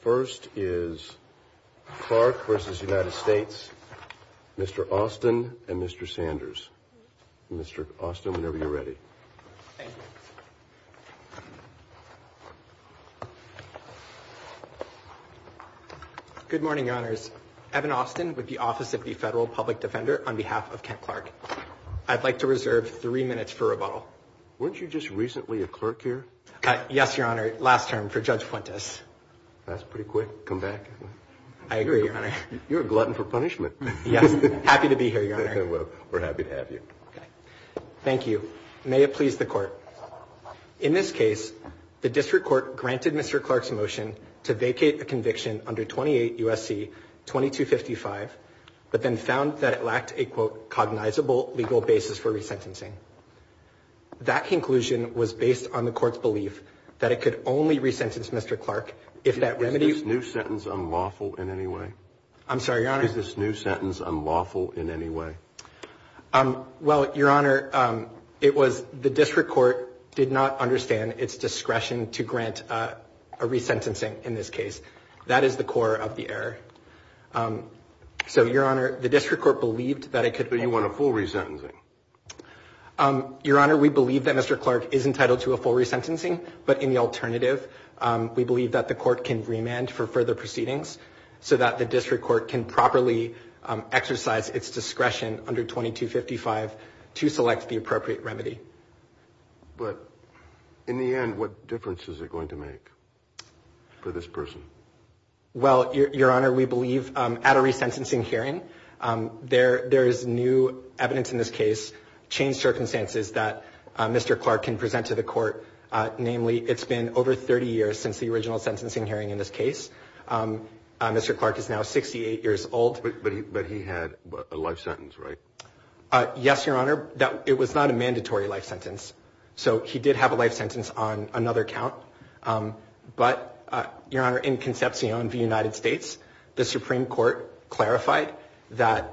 First is Clark v. United States, Mr. Austin and Mr. Sanders. Mr. Austin, whenever you're ready. Thank you. Good morning, Your Honors. Evan Austin with the Office of the Federal Public Defender on behalf of Kent Clark. I'd like to reserve three minutes for rebuttal. Weren't you just recently a clerk here? Yes, Your Honor, last term for Judge Puentes. That's pretty quick. Come back. I agree, Your Honor. You're a glutton for punishment. Yes. Happy to be here, Your Honor. We're happy to have you. Okay. Thank you. May it please the Court. In this case, the District Court granted Mr. Clark's motion to vacate a conviction under 28 U.S.C. 2255, but then found that it lacked a, quote, cognizable legal basis for resentencing. That conclusion was based on the Court's belief that it could only resentence Mr. Clark if that remedy... Is this new sentence unlawful in any way? I'm sorry, Your Honor. Is this new sentence unlawful in any way? Well, Your Honor, it was the District Court did not understand its discretion to grant a resentencing in this case. That is the core of the error. So, Your Honor, the District Court believed that it could... So you want a full resentencing? Your Honor, we believe that Mr. Clark is entitled to a full resentencing, but in the alternative, we believe that the Court can remand for further proceedings so that the District Court can properly exercise its discretion under 2255 to select the appropriate remedy. But in the end, what difference is it going to make for this person? Well, Your Honor, we believe at a resentencing hearing, there is new evidence in this case, changed circumstances that Mr. Clark can present to the Court. Namely, it's been over 30 years since the original sentencing hearing in this case. Mr. Clark is now 68 years old. But he had a life sentence, right? Yes, Your Honor. It was not a mandatory life sentence. So he did have a life sentence on another count. But, Your Honor, in Concepcion v. United States, the Supreme Court clarified that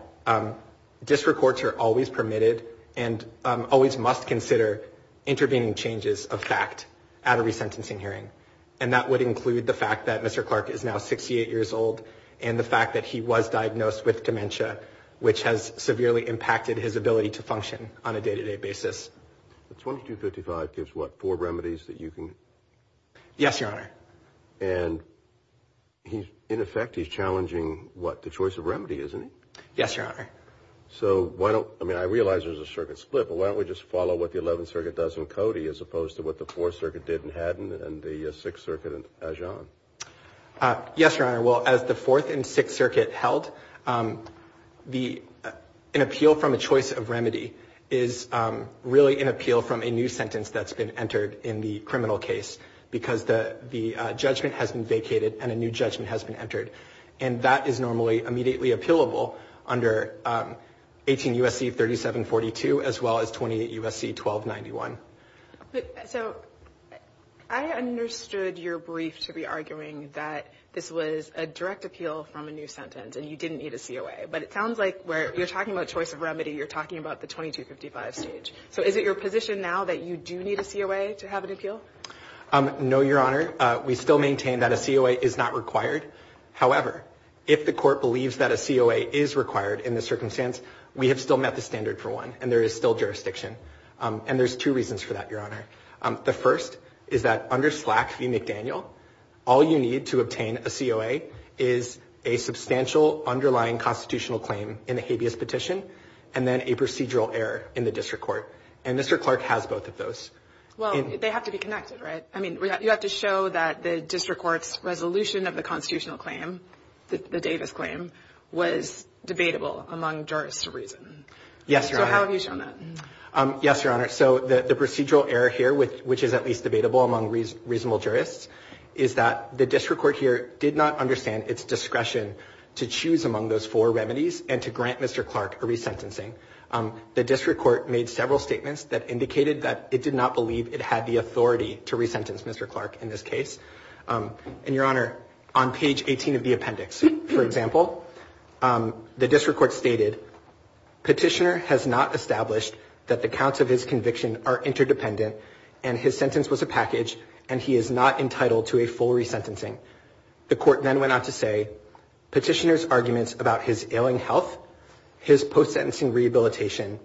District Courts are always permitted and always must consider intervening changes of fact at a resentencing hearing. And that would include the fact that Mr. Clark is now 68 years old and the fact that he was diagnosed with dementia, which has severely impacted his ability to function on a day-to-day basis. But 2255 gives, what, four remedies that you can... Yes, Your Honor. And in effect, he's challenging, what, the choice of remedy, isn't he? Yes, Your Honor. So why don't, I mean, I realize there's a circuit split, but why don't we just follow what the 11th Circuit does in Cody as opposed to what the 4th Circuit did in Haddon and the 6th Circuit in Ajon? Yes, Your Honor. Well, as the 4th and 6th Circuit held, an appeal from a choice of remedy is really an appeal from a new sentence that's been entered in the criminal case because the judgment has been vacated and a new judgment has been entered. And that is normally immediately appealable under 18 U.S.C. 3742 as well as 28 U.S.C. 1291. So I understood your brief to be arguing that this was a direct appeal from a new sentence and you didn't need a COA. But it sounds like where you're talking about choice of remedy, you're talking about the 2255 stage. So is it your position now that you do need a COA to have an appeal? No, Your Honor. We still maintain that a COA is not required. However, if the court believes that a COA is required in this circumstance, we have still met the standard for one and there is still jurisdiction. And there's two reasons for that, Your Honor. The first is that under SLAC v. McDaniel, all you need to obtain a COA is a substantial underlying constitutional claim in the habeas petition and then a procedural error in the district court. And Mr. Clark has both of those. Well, they have to be connected, right? I mean, you have to show that the district court's resolution of the constitutional claim, the Davis claim, was debatable among jurists to reason. Yes, Your Honor. So how have you shown that? Yes, Your Honor. So the procedural error here, which is at least debatable among reasonable jurists, is that the district court here did not understand its discretion to choose among those four remedies and to grant Mr. Clark a resentencing. The district court made several statements that indicated that it did not believe it had the authority to resentence Mr. Clark in this case. And, Your Honor, on page 18 of the appendix, for example, the district court stated, Petitioner has not established that the counts of his conviction are interdependent and his sentence was a package and he is not entitled to a full resentencing. The court then went on to say, Petitioner's arguments about his ailing health, his post-sentencing rehabilitation,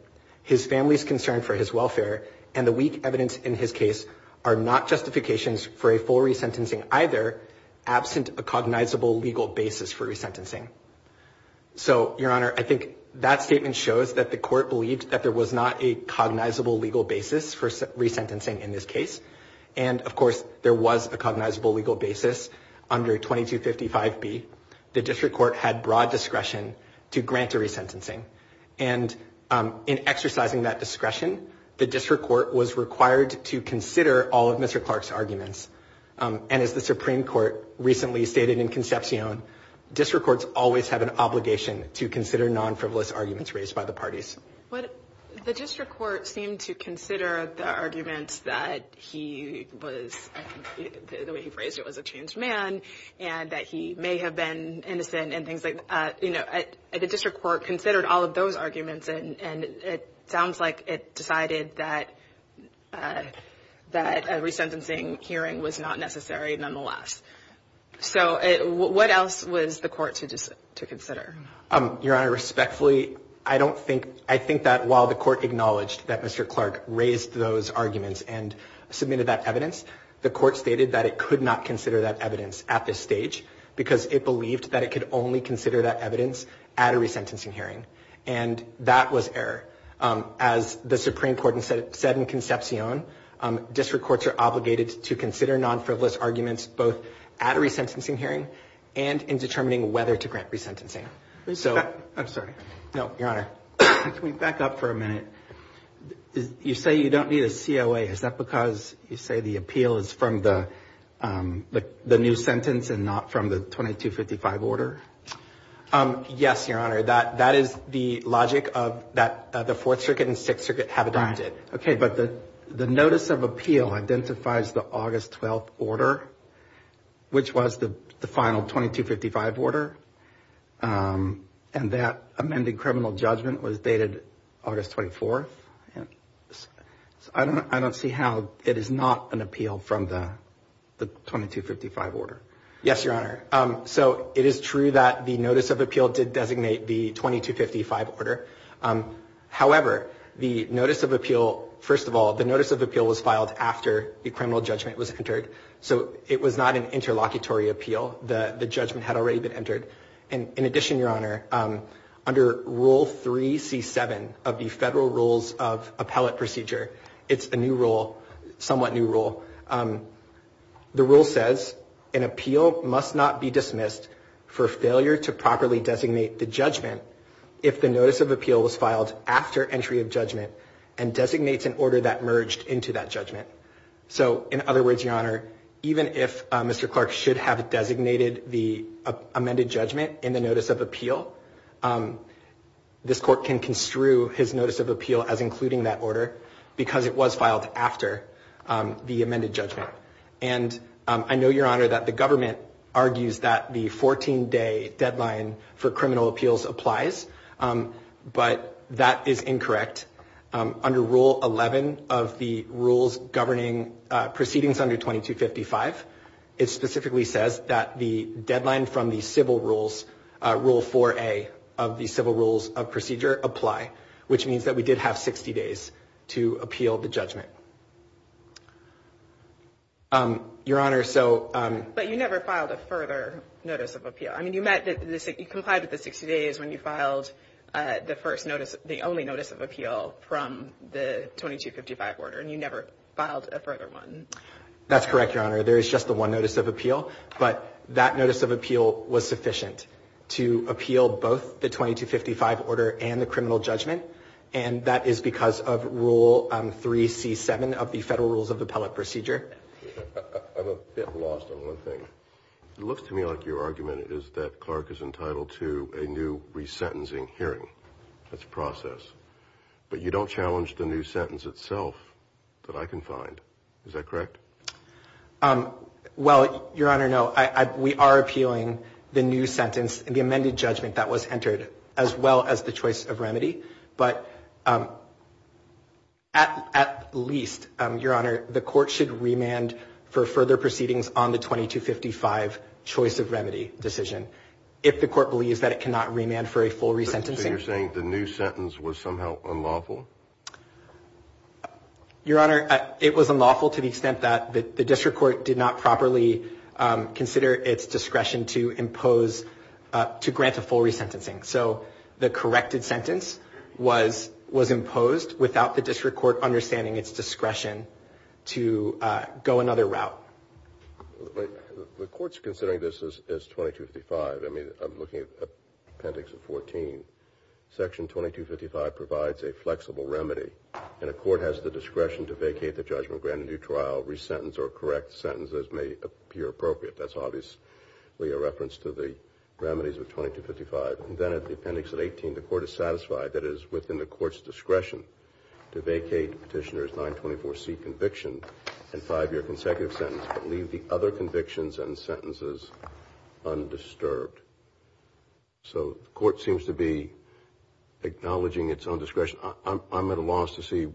his family's concern for his welfare, and the weak evidence in his case are not justifications for a full resentencing either, absent a cognizable legal basis for resentencing. So, Your Honor, I think that statement shows that the court believed that there was not a cognizable legal basis for resentencing in this case. And, of course, there was a cognizable legal basis under 2255B. The district court had broad discretion to grant a resentencing. And in exercising that discretion, the district court was required to consider all of Mr. Clark's arguments. And as the Supreme Court recently stated in Concepcion, district courts always have an obligation to consider non-frivolous arguments raised by the parties. The district court seemed to consider the arguments that he was, the way he phrased it, was a changed man, and that he may have been innocent and things like that. The district court considered all of those arguments and it sounds like it decided that a resentencing hearing was not necessary nonetheless. So what else was the court to consider? Your Honor, respectfully, I don't think, I think that while the court acknowledged that Mr. Clark raised those arguments and submitted that evidence, the court stated that it could not consider that evidence at this stage because it believed that it could only consider that evidence at a resentencing hearing. And that was error. As the Supreme Court said in Concepcion, district courts are obligated to consider non-frivolous arguments both at a resentencing hearing and in determining whether to grant resentencing. I'm sorry. No, Your Honor. Can we back up for a minute? You say you don't need a COA. Is that because you say the appeal is from the new sentence and not from the 2255 order? Yes, Your Honor. That is the logic that the Fourth Circuit and Sixth Circuit have adopted. Okay, but the notice of appeal identifies the August 12th order, which was the final 2255 order, and that amended criminal judgment was dated August 24th. I don't see how it is not an appeal from the 2255 order. Yes, Your Honor. So it is true that the notice of appeal did designate the 2255 order. However, the notice of appeal, first of all, the notice of appeal was filed after the criminal judgment was entered, so it was not an interlocutory appeal. The judgment had already been entered. And in addition, Your Honor, under Rule 3C7 of the Federal Rules of Appellate Procedure, it's a new rule, somewhat new rule. The rule says an appeal must not be dismissed for failure to properly designate the judgment if the notice of appeal was filed after entry of judgment and designates an order that merged into that judgment. So, in other words, Your Honor, even if Mr. Clark should have designated the amended judgment in the notice of appeal, this Court can construe his notice of appeal as including that order because it was filed after the amended judgment. And I know, Your Honor, that the government argues that the 14-day deadline for criminal appeals applies, but that is incorrect. Under Rule 11 of the Rules Governing Proceedings under 2255, it specifically says that the deadline from the civil rules, Rule 4A of the Civil Rules of Procedure, apply, which means that we did have 60 days to appeal the judgment. Your Honor, so — But you never filed a further notice of appeal. I mean, you met the — you complied with the 60 days when you filed the first notice — the only notice of appeal from the 2255 order, and you never filed a further one. That's correct, Your Honor. There is just the one notice of appeal, but that notice of appeal was sufficient to appeal both the 2255 order and the criminal judgment, and that is because of Rule 3C7 of the Federal Rules of Appellate Procedure. I'm a bit lost on one thing. It looks to me like your argument is that Clark is entitled to a new resentencing hearing. That's a process. But you don't challenge the new sentence itself that I can find. Is that correct? Well, Your Honor, no. We are appealing the new sentence and the amended judgment that was entered, as well as the choice of remedy, but at least, Your Honor, the court should remand for further proceedings on the 2255 choice of remedy decision if the court believes that it cannot remand for a full resentencing. So you're saying the new sentence was somehow unlawful? Your Honor, it was unlawful to the extent that the district court did not properly consider its discretion to impose — to grant a full resentencing. So the corrected sentence was imposed without the district court understanding its discretion to go another route. The court's considering this as 2255. I mean, I'm looking at Appendix 14. Section 2255 provides a flexible remedy, and a court has the discretion to vacate the judgment, grant a new trial, resentence, or correct sentences as may appear appropriate. That's obviously a reference to the remedies of 2255. And then at the Appendix 18, the court is satisfied that it is within the court's discretion to vacate Petitioner's 924C conviction and five-year consecutive sentence, but leave the other convictions and sentences undisturbed. So the court seems to be acknowledging its own discretion. I'm at a loss to see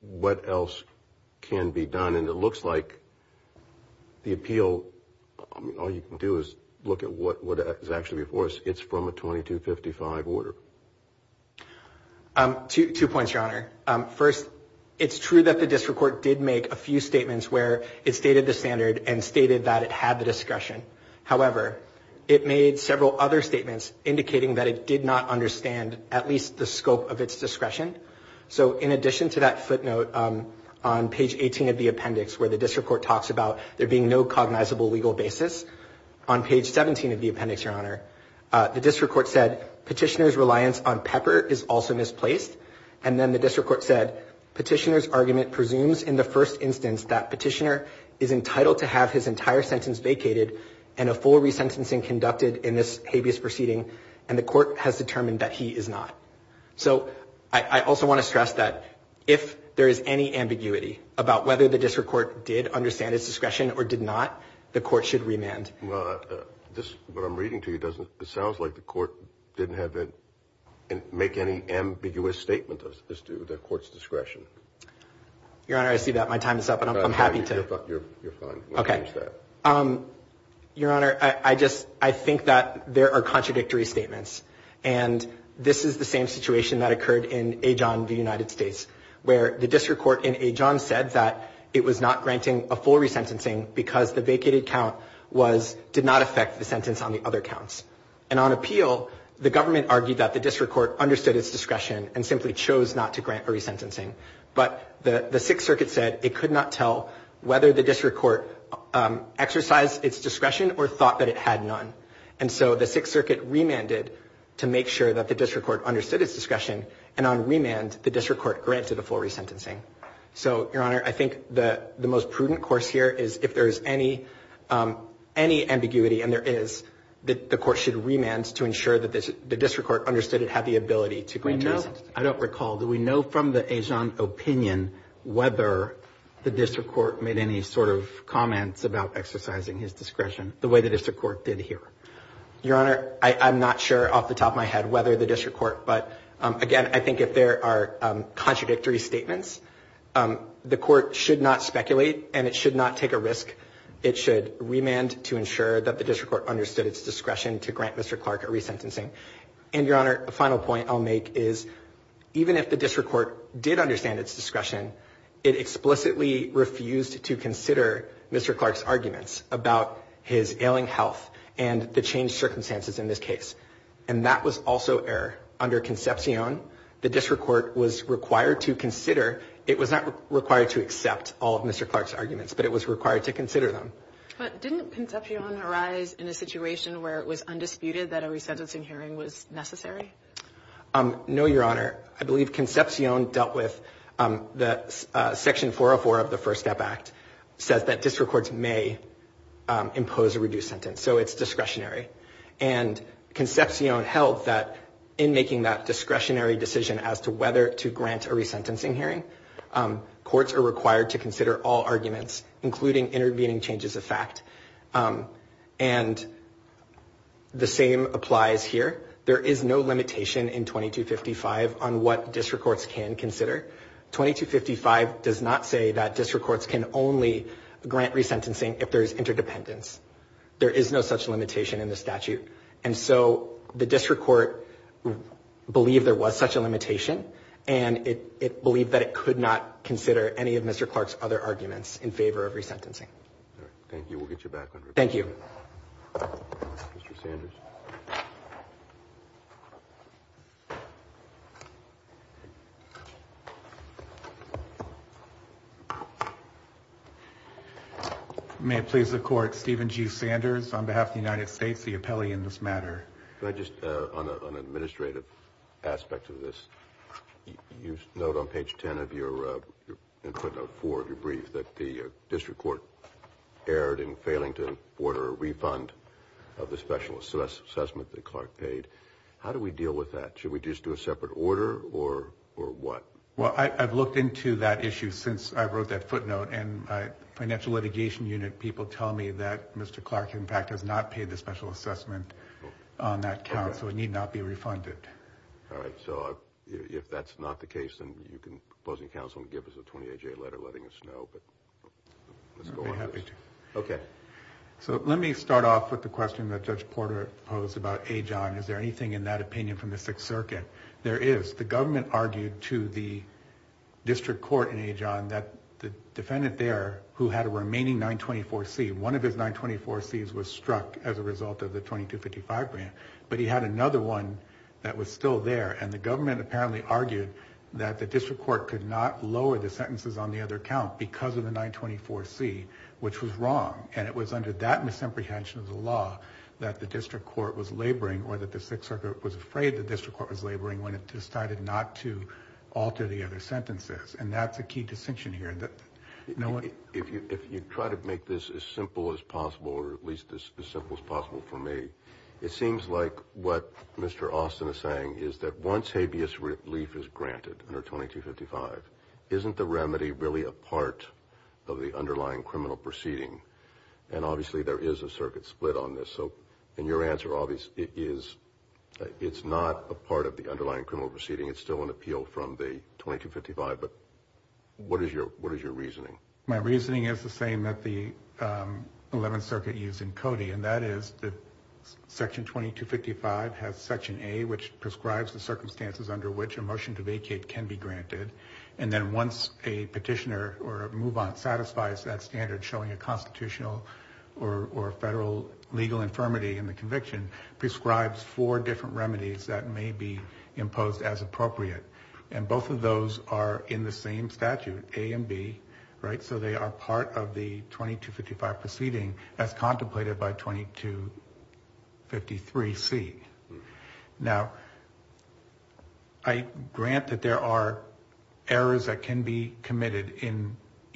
what else can be done. And it looks like the appeal, I mean, all you can do is look at what is actually before us. It's from a 2255 order. Two points, Your Honor. First, it's true that the district court did make a few statements where it stated the standard and stated that it had the discretion. However, it made several other statements indicating that it did not understand at least the scope of its discretion. So in addition to that footnote on page 18 of the appendix where the district court talks about there being no cognizable legal basis, on page 17 of the appendix, Your Honor, the district court said Petitioner's reliance on Pepper is also misplaced. And then the district court said Petitioner's argument presumes in the first instance that Petitioner is entitled to have his entire sentence vacated and a full resentencing conducted in this habeas proceeding, and the court has determined that he is not. So I also want to stress that if there is any ambiguity about whether the district court did understand its discretion or did not, the court should remand. Well, what I'm reading to you, it sounds like the court didn't make any ambiguous statement as to the court's discretion. Your Honor, I see that. My time is up, and I'm happy to. You're fine. Okay. Your Honor, I just think that there are contradictory statements. And this is the same situation that occurred in Ajon, the United States, where the district court in Ajon said that it was not granting a full resentencing because the vacated count did not affect the sentence on the other counts. And on appeal, the government argued that the district court understood its discretion and simply chose not to grant a resentencing. But the Sixth Circuit said it could not tell whether the district court exercised its discretion or thought that it had none. And so the Sixth Circuit remanded to make sure that the district court understood its discretion. And on remand, the district court granted a full resentencing. So, Your Honor, I think the most prudent course here is if there is any ambiguity and there is, that the court should remand to ensure that the district court understood it had the ability to grant a resentencing. I don't recall. Do we know from the Ajon opinion whether the district court made any sort of Your Honor, I'm not sure off the top of my head whether the district court, but, again, I think if there are contradictory statements, the court should not speculate and it should not take a risk. It should remand to ensure that the district court understood its discretion to grant Mr. Clark a resentencing. And, Your Honor, a final point I'll make is even if the district court did understand its discretion, it explicitly refused to consider Mr. Clark's and the changed circumstances in this case. And that was also error. Under Concepcion, the district court was required to consider. It was not required to accept all of Mr. Clark's arguments, but it was required to consider them. But didn't Concepcion arise in a situation where it was undisputed that a resentencing hearing was necessary? No, Your Honor. I believe Concepcion dealt with the section 404 of the First Step Act says that district courts may impose a reduced sentence. So it's discretionary. And Concepcion held that in making that discretionary decision as to whether to grant a resentencing hearing, courts are required to consider all arguments, including intervening changes of fact. And the same applies here. There is no limitation in 2255 on what district courts can consider. 2255 does not say that district courts can only grant resentencing if there is interdependence. There is no such limitation in the statute. And so the district court believed there was such a limitation, and it believed that it could not consider any of Mr. Clark's other arguments in favor of resentencing. All right. Thank you. We'll get you back on record. Thank you. Mr. Sanders. May it please the Court, Stephen G. Sanders, on behalf of the United States, the appellee in this matter. Could I just, on an administrative aspect of this, you note on page 10 of your input note 4 of your brief that the district court erred in failing to order a refund of the specialist. So that's not true. How do we deal with that? Should we just do a separate order or what? Well, I've looked into that issue since I wrote that footnote, and the financial litigation unit people tell me that Mr. Clark, in fact, has not paid the special assessment on that count, so it need not be refunded. All right. So if that's not the case, then you can go to the council and give us a 28-day letter letting us know. But let's go on with this. Okay. So let me start off with the question that Judge Porter posed about Ajon. Is there anything in that opinion from the Sixth Circuit? There is. The government argued to the district court in Ajon that the defendant there, who had a remaining 924C, one of his 924Cs was struck as a result of the 2255 grant, but he had another one that was still there, and the government apparently argued that the district court could not lower the sentences on the other count because of the 924C, which was wrong, and it was under that misapprehension of the law that the district court was laboring or that the Sixth Circuit was afraid the district court was laboring when it decided not to alter the other sentences, and that's a key distinction here. If you try to make this as simple as possible, or at least as simple as possible for me, it seems like what Mr. Austin is saying is that once habeas relief is granted under 2255, isn't the remedy really a part of the underlying criminal proceeding? And obviously there is a circuit split on this. So in your answer, it's not a part of the underlying criminal proceeding. It's still an appeal from the 2255, but what is your reasoning? My reasoning is the same that the Eleventh Circuit used in Cody, and that is that Section 2255 has Section A, which prescribes the circumstances under which a motion to vacate can be granted, and then once a petitioner or a move-on satisfies that standard showing a constitutional or federal legal infirmity in the conviction, prescribes four different remedies that may be imposed as appropriate, and both of those are in the same statute, A and B, right? of the 2255 proceeding as contemplated by 2253C. Now, I grant that there are errors that can be committed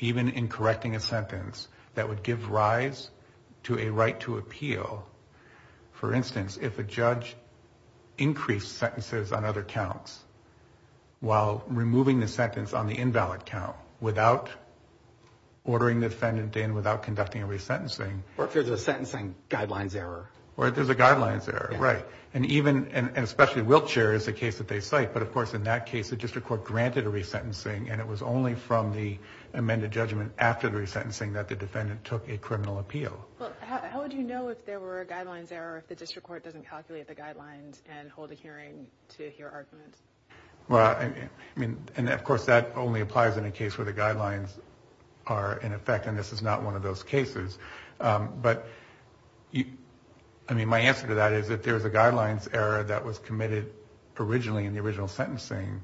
even in correcting a sentence that would give rise to a right to appeal. For instance, if a judge increased sentences on other counts while removing the sentence on the invalid count without ordering the defendant in, without conducting a resentencing. Or if there's a sentencing guidelines error. Or if there's a guidelines error, right. And even, and especially in Wiltshire is the case that they cite, but of course in that case the district court granted a resentencing, and it was only from the amended judgment after the resentencing that the defendant took a criminal appeal. Well, how would you know if there were a guidelines error if the district court doesn't calculate the guidelines and hold a hearing to hear arguments? Well, I mean, and of course that only applies in a case where the guidelines are in effect, and this is not one of those cases. But, I mean, my answer to that is if there's a guidelines error that was committed originally in the original sentencing,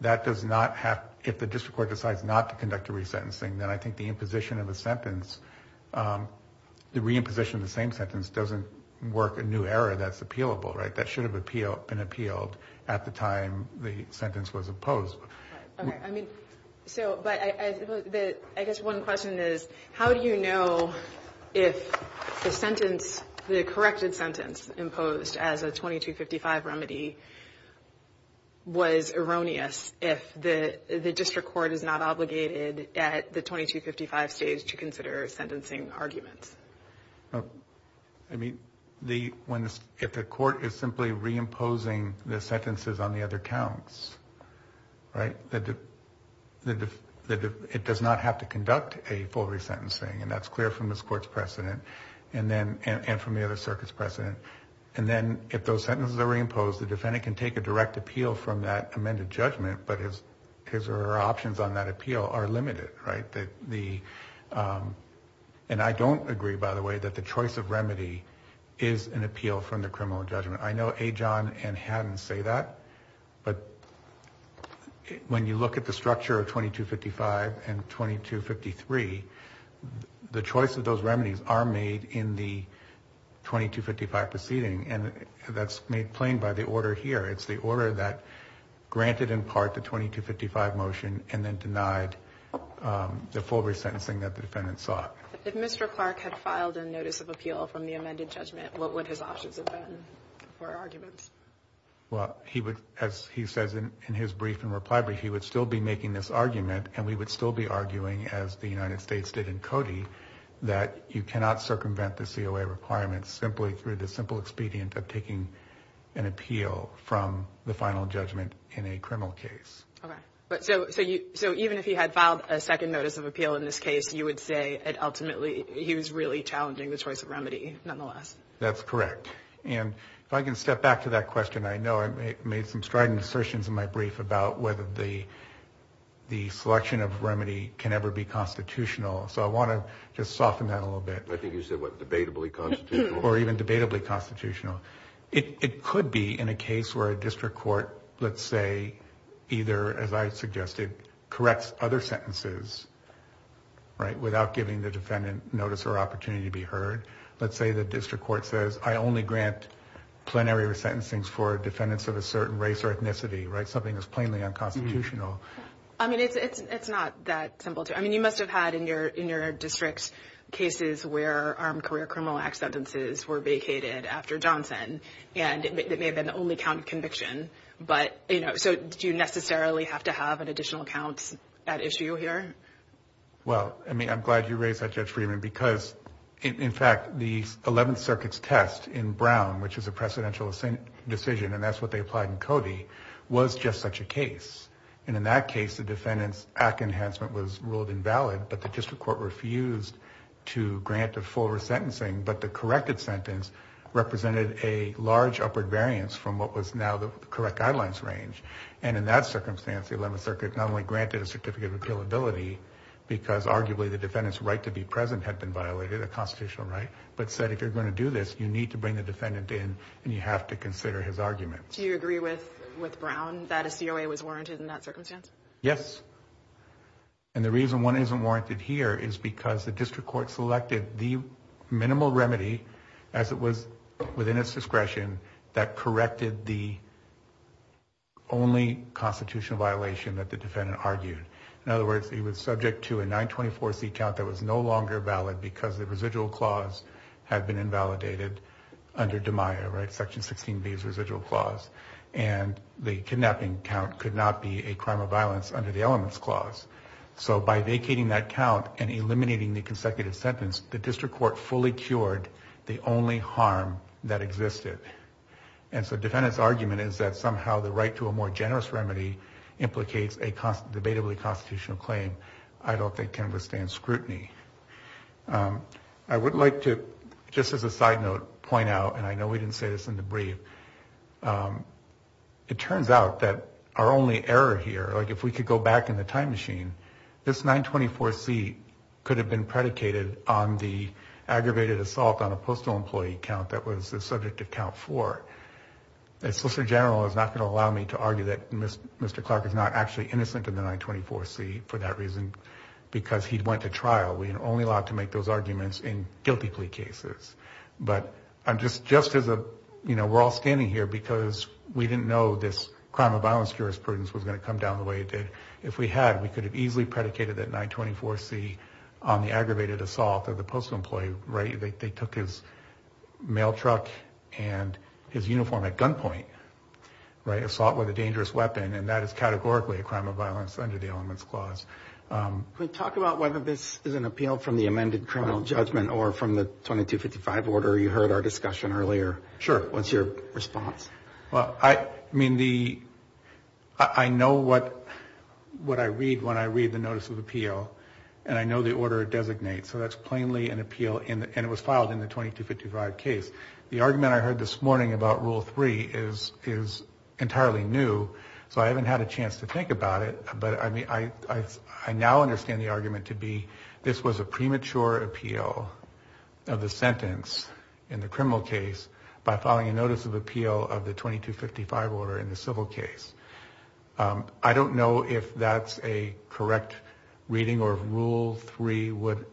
that does not have, if the district court decides not to conduct a resentencing, then I think the imposition of a sentence, the reimposition of the same sentence doesn't work a new error that's appealable, right. That should have been appealed at the time the sentence was opposed. Okay. I mean, so, but I guess one question is how do you know if the sentence, the corrected sentence imposed as a 2255 remedy was erroneous if the district court is not obligated at the 2255 stage to consider sentencing arguments? I mean, if the court is simply reimposing the sentences on the other counts, right, it does not have to conduct a full resentencing, and that's clear from this court's precedent and from the other circuit's precedent. And then if those sentences are reimposed, the defendant can take a direct appeal from that amended judgment, but his or her options on that appeal are limited, right. And I don't agree, by the way, that the choice of remedy is an appeal from the criminal judgment. I know Ajon and Haddon say that, but when you look at the structure of 2255 and 2253, the choice of those remedies are made in the 2255 proceeding, and that's made plain by the order here. It's the order that granted in part the 2255 motion and then denied the full resentencing that the defendant sought. If Mr. Clark had filed a notice of appeal from the amended judgment, what would his options have been for arguments? Well, as he says in his brief and reply brief, he would still be making this argument, and we would still be arguing as the United States did in Cody that you cannot circumvent the COA requirements simply through the simple expedient of taking an appeal from the final judgment in a criminal case. Okay. So even if he had filed a second notice of appeal in this case, you would say ultimately he was really challenging the choice of remedy, nonetheless? That's correct. And if I can step back to that question, I know I made some strident assertions in my brief about whether the selection of remedy can ever be constitutional, so I want to just soften that a little bit. I think you said, what, debatably constitutional? Or even debatably constitutional. It could be in a case where a district court, let's say, either, as I suggested, corrects other sentences, right, without giving the defendant notice or opportunity to be heard. Let's say the district court says, I only grant plenary resentencings for defendants of a certain race or ethnicity, right, something that's plainly unconstitutional. I mean, it's not that simple. I mean, you must have had in your district cases where Armed Career Criminal Act sentences were vacated after Johnson, and it may have been the only count of conviction. But, you know, so do you necessarily have to have an additional count at issue here? Well, I mean, I'm glad you raised that, Judge Friedman, because, in fact, the 11th Circuit's test in Brown, which is a precedential decision, and that's what they applied in Cody, was just such a case. And in that case, the defendant's act enhancement was ruled invalid, but the district court refused to grant the full resentencing, but the corrected sentence represented a large upward variance from what was now the correct guidelines range. And in that circumstance, the 11th Circuit not only granted a certificate of appealability, because arguably the defendant's right to be present had been violated, a constitutional right, but said if you're going to do this, you need to bring the defendant in and you have to consider his argument. Do you agree with Brown that a COA was warranted in that circumstance? Yes. And the reason one isn't warranted here is because the district court selected the minimal remedy, as it was within its discretion, that corrected the only constitutional violation that the defendant argued. In other words, he was subject to a 924C count that was no longer valid because the residual clause had been invalidated under DMIA, right, Section 16B's residual clause, and the kidnapping count could not be a crime of violence under the elements clause. So by vacating that count and eliminating the consecutive sentence, the district court fully cured the only harm that existed. And so the defendant's argument is that somehow the right to a more generous remedy implicates a debatably constitutional claim I don't think can withstand scrutiny. I would like to, just as a side note, point out, and I know we didn't say this in the brief, it turns out that our only error here, like if we could go back in the time machine, this 924C could have been predicated on the aggravated assault on a postal employee count that was the subject of count four. A solicitor general is not going to allow me to argue that Mr. Clark is not actually innocent in the 924C for that reason because he went to trial. We are only allowed to make those arguments in guilty plea cases. But just as a, you know, we're all standing here because we didn't know this crime of violence jurisprudence was going to come down the way it did. If we had, we could have easily predicated that 924C on the aggravated assault of the postal employee, right? They took his mail truck and his uniform at gunpoint, right? Assault with a dangerous weapon, and that is categorically a crime of violence under the elements clause. Can we talk about whether this is an appeal from the amended criminal judgment or from the 2255 order? You heard our discussion earlier. Sure. What's your response? Well, I mean, I know what I read when I read the notice of appeal, and I know the order it designates. So that's plainly an appeal, and it was filed in the 2255 case. The argument I heard this morning about Rule 3 is entirely new, so I haven't had a chance to think about it, but I now understand the argument to be this was a premature appeal of the sentence in the criminal case by filing a notice of appeal of the 2255 order in the civil case. I don't know if that's a correct reading or if Rule 3 would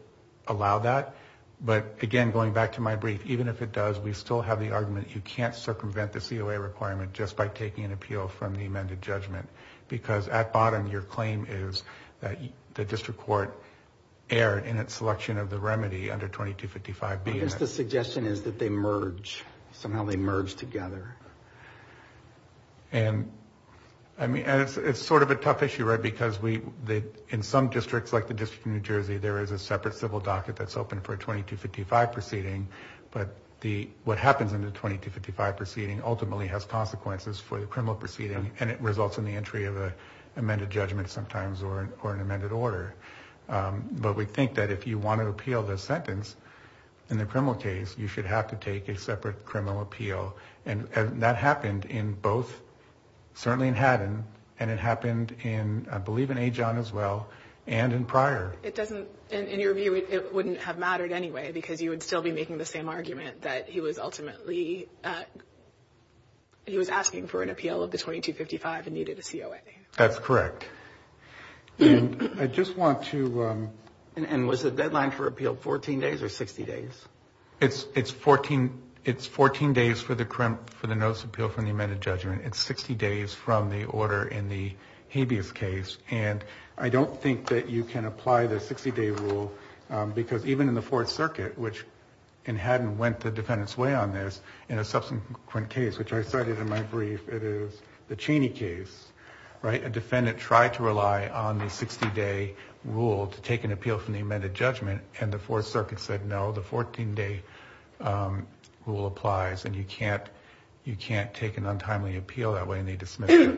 allow that, but, again, going back to my brief, even if it does, we still have the argument you can't circumvent the COA requirement just by taking an appeal from the amended judgment because at bottom your claim is that the district court erred in its selection of the remedy under 2255B. I guess the suggestion is that they merge. Somehow they merge together. And it's sort of a tough issue, right, because in some districts, like the District of New Jersey, there is a separate civil docket that's open for a 2255 proceeding, but what happens in the 2255 proceeding ultimately has consequences for the criminal proceeding, and it results in the entry of an amended judgment sometimes or an amended order. But we think that if you want to appeal the sentence in the criminal case, you should have to take a separate criminal appeal, and that happened in both, certainly in Haddon, and it happened in, I believe, in Ajon as well, and in Pryor. It doesn't, in your view, it wouldn't have mattered anyway because you would still be making the same argument that he was ultimately, he was asking for an appeal of the 2255 and needed a COA. That's correct. And I just want to... And was the deadline for appeal 14 days or 60 days? It's 14 days for the notice of appeal from the amended judgment. It's 60 days from the order in the habeas case, and I don't think that you can apply the 60-day rule because even in the Fourth Circuit, which in Haddon went the defendant's way on this in a subsequent case, which I cited in my brief, it is the Cheney case, right? A defendant tried to rely on the 60-day rule to take an appeal from the amended judgment, and the Fourth Circuit said no, the 14-day rule applies, and you can't take an untimely appeal that way, and they dismissed it.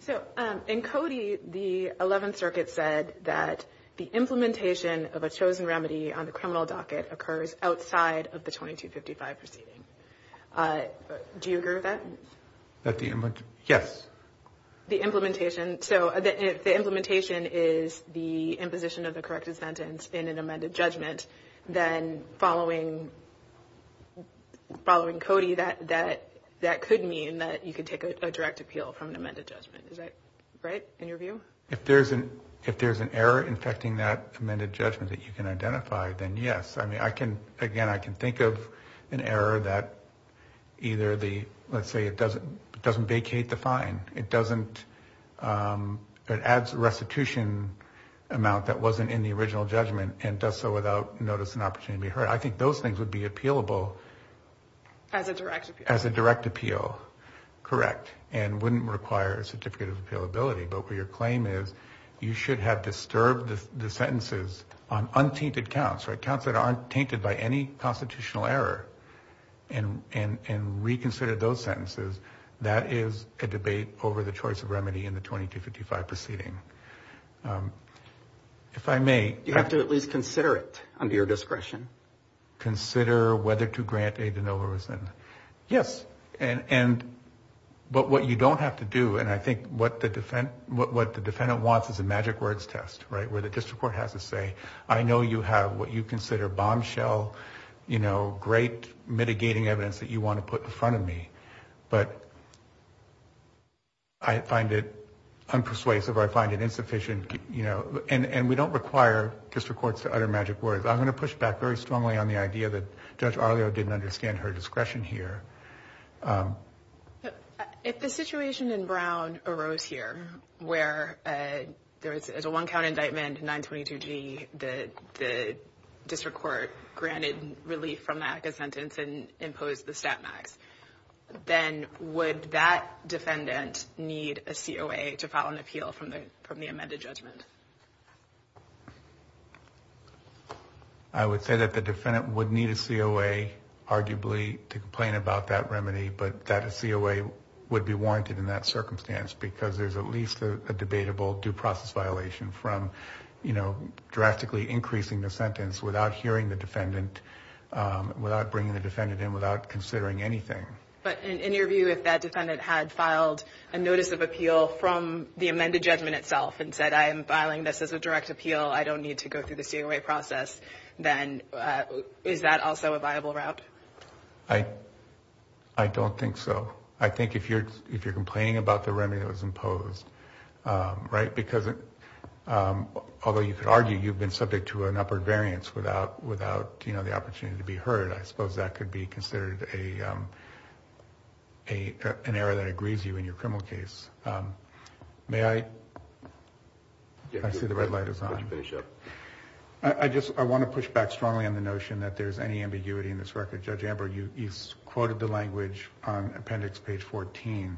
So in Cody, the Eleventh Circuit said that the implementation of a chosen remedy on the criminal docket occurs outside of the 2255 proceeding. Do you agree with that? Yes. The implementation. So if the implementation is the imposition of the corrected sentence in an amended judgment, then following Cody, that could mean that you could take a direct appeal from an amended judgment. Is that right in your view? If there's an error infecting that amended judgment that you can identify, then yes. I mean, I can, again, I can think of an error that either the, let's say it doesn't vacate the fine, it doesn't, it adds restitution amount that wasn't in the original judgment and does so without notice and opportunity to be heard. I think those things would be appealable. As a direct appeal. As a direct appeal, correct, and wouldn't require a certificate of appealability, but where your claim is you should have disturbed the sentences on untainted counts, counts that aren't tainted by any constitutional error, and reconsidered those sentences, that is a debate over the choice of remedy in the 2255 proceeding. If I may. Do you have to at least consider it under your discretion? Consider whether to grant aid in overridden. Yes. And, but what you don't have to do, and I think what the defendant wants is a magic words test, right, where the district court has to say, I know you have what you consider bombshell, you know, great mitigating evidence that you want to put in front of me, but I find it unpersuasive or I find it insufficient, you know, and we don't require district courts to utter magic words. I'm going to push back very strongly on the idea that Judge Arlio didn't understand her discretion here. If the situation in Brown arose here, where there is a one count indictment, 922G, the district court granted relief from that sentence and imposed the stat max, then would that defendant need a COA to file an appeal from the amended judgment? I would say that the defendant would need a COA, arguably, to complain about that remedy, but that COA would be warranted in that circumstance because there's at least a debatable due process violation from, you know, drastically increasing the sentence without hearing the defendant, without bringing the defendant in, without considering anything. But in your view, if that defendant had filed a notice of appeal from the amended judgment itself and said I am filing this as a direct appeal, I don't need to go through the COA process, then is that also a viable route? I don't think so. I think if you're complaining about the remedy that was imposed, right, because although you could argue you've been subject to an upward variance without, you know, the opportunity to be heard, I suppose that could be considered an error that agrees you in your criminal case. May I? I see the red light is on. I want to push back strongly on the notion that there's any ambiguity in this record. Judge Amber, you quoted the language on appendix page 14.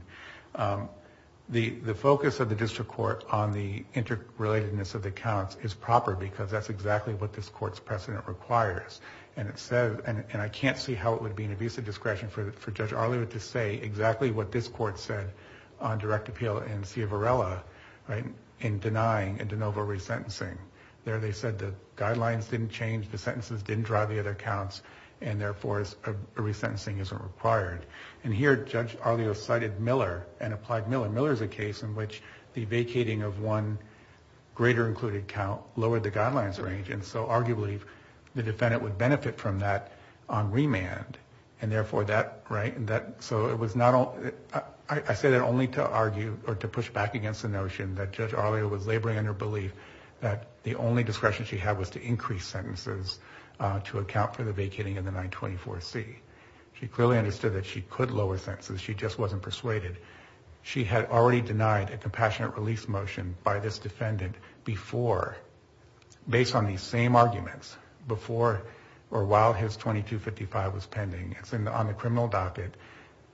The focus of the district court on the interrelatedness of the counts is proper because that's exactly what this court's precedent requires. And I can't see how it would be an abusive discretion for Judge Arlio to say exactly what this court said on direct appeal in Ciavarella in denying a de novo resentencing. There they said the guidelines didn't change, the sentences didn't drive the other counts, and therefore a resentencing isn't required. And here Judge Arlio cited Miller and applied Miller. Miller is a case in which the vacating of one greater included count lowered the guidelines range, and so arguably the defendant would benefit from that on remand, and therefore that, right, so I say that only to argue or to push back against the notion that Judge Arlio was laboring on her belief that the only discretion she had was to increase sentences to account for the vacating in the 924C. She clearly understood that she could lower sentences, she just wasn't persuaded. She had already denied a compassionate release motion by this defendant before, based on these same arguments, before or while his 2255 was pending. It's on the criminal docket.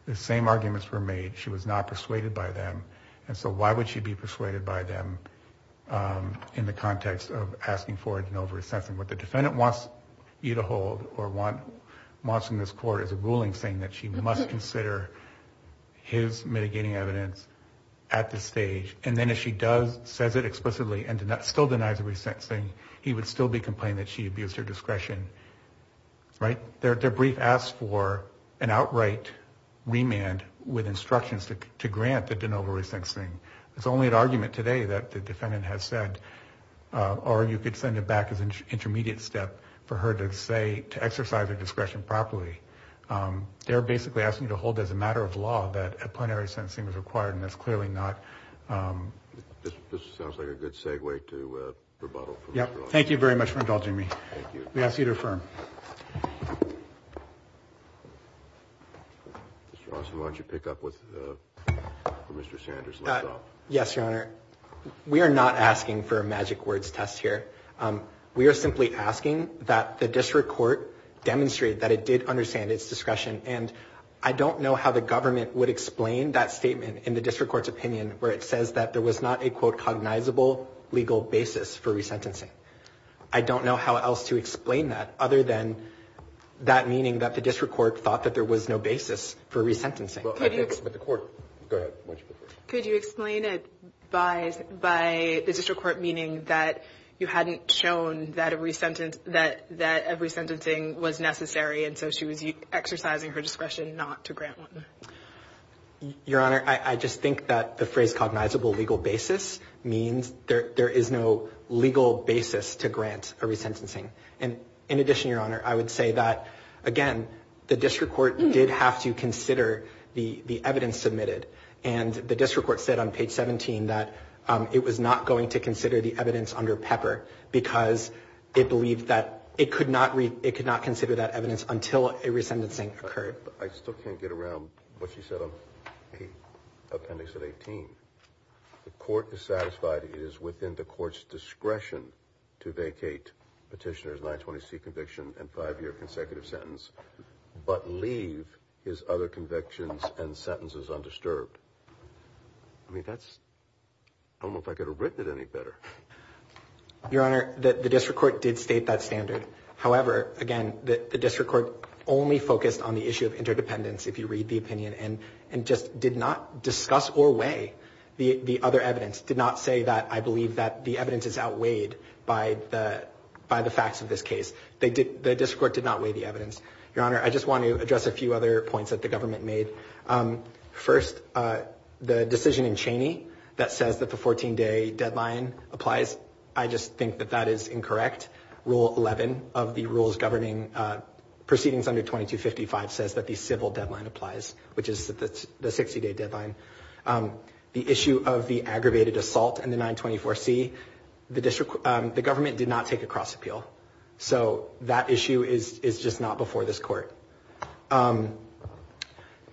The same arguments were made. She was not persuaded by them, and so why would she be persuaded by them in the context of asking for a de novo resentencing? What the defendant wants you to hold or wants in this court is a ruling saying that she must consider his mitigating evidence at this stage, and then if she does, says it explicitly, and still denies a resentencing, he would still be complaining that she abused her discretion, right? Their brief asks for an outright remand with instructions to grant the de novo resentencing. It's only an argument today that the defendant has said, or you could send it back as an intermediate step for her to say, to exercise her discretion properly. They're basically asking you to hold as a matter of law that a plenary sentencing is required, and it's clearly not. This sounds like a good segue to rebuttal. Yeah, thank you very much for indulging me. We ask you to affirm. Why don't you pick up with Mr. Sanders? Yes, Your Honor. We are not asking for a magic words test here. We are simply asking that the district court demonstrate that it did understand its discretion, and I don't know how the government would explain that statement in the district court's opinion, where it says that there was not a quote cognizable legal basis for resentencing. I don't know how else to explain that other than that meaning that the district court thought that there was no basis for resentencing. Could you explain it by the district court meaning that you hadn't shown that a resentencing was necessary, and so she was exercising her discretion not to grant one? Your Honor, I just think that the phrase cognizable legal basis means there is no legal basis to grant a resentencing. And in addition, Your Honor, I would say that, again, the district court did have to consider the evidence submitted, and the district court said on page 17 that it was not going to consider the evidence under Pepper because it believed that it could not consider that evidence until a resentencing occurred. I still can't get around what she said on appendix 18. The court is satisfied it is within the court's discretion to vacate petitioner's 920C conviction and five-year consecutive sentence but leave his other convictions and sentences undisturbed. I mean, I don't know if I could have written it any better. Your Honor, the district court did state that standard. However, again, the district court only focused on the issue of interdependence if you read the opinion and just did not discuss or weigh the other evidence, did not say that I believe that the evidence is outweighed by the facts of this case. The district court did not weigh the evidence. Your Honor, I just want to address a few other points that the government made. First, the decision in Cheney that says that the 14-day deadline applies, I just think that that is incorrect. Rule 11 of the rules governing proceedings under 2255 says that the civil deadline applies, which is the 60-day deadline. The issue of the aggravated assault and the 924C, the government did not take a cross appeal. So that issue is just not before this court.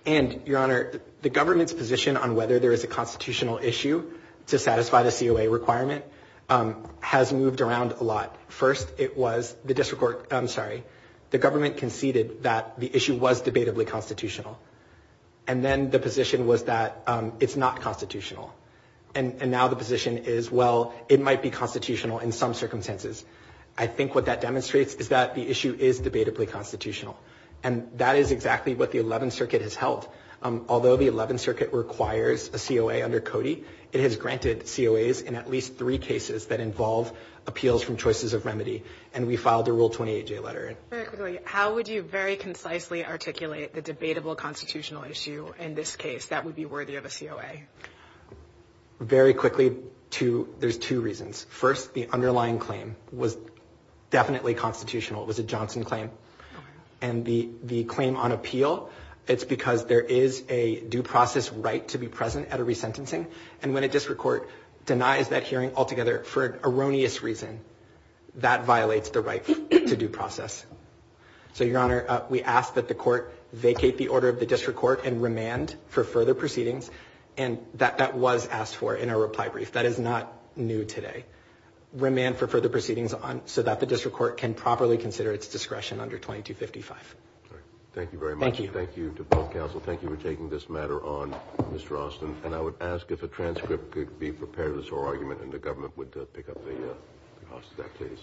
And, Your Honor, the government's position on whether there is a constitutional issue to satisfy the COA requirement has moved around a lot. First, it was the district court, I'm sorry, the government conceded that the issue was debatably constitutional. And then the position was that it's not constitutional. And now the position is, well, it might be constitutional in some circumstances. I think what that demonstrates is that the issue is debatably constitutional. And that is exactly what the 11th Circuit has held. Although the 11th Circuit requires a COA under Cody, it has granted COAs in at least three cases that involve appeals from choices of remedy. And we filed a Rule 28J letter. Very quickly, how would you very concisely articulate the debatable constitutional issue in this case that would be worthy of a COA? Very quickly, there's two reasons. First, the underlying claim was definitely constitutional. It was a Johnson claim. And the claim on appeal, it's because there is a due process right to be present at a resentencing. And when a district court denies that hearing altogether for an erroneous reason, that violates the right to due process. So, Your Honor, we ask that the court vacate the order of the district court and remand for further proceedings. And that was asked for in our reply brief. That is not new today. Remand for further proceedings so that the district court can properly consider its discretion under 2255. Thank you very much. Thank you. Thank you to both counsel. Thank you for taking this matter on, Mr. Austin. And I would ask if a transcript could be prepared of this whole argument and the government would pick up the cost of that case.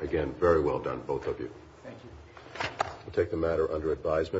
Again, very well done, both of you. Thank you. We'll take the matter under advisement.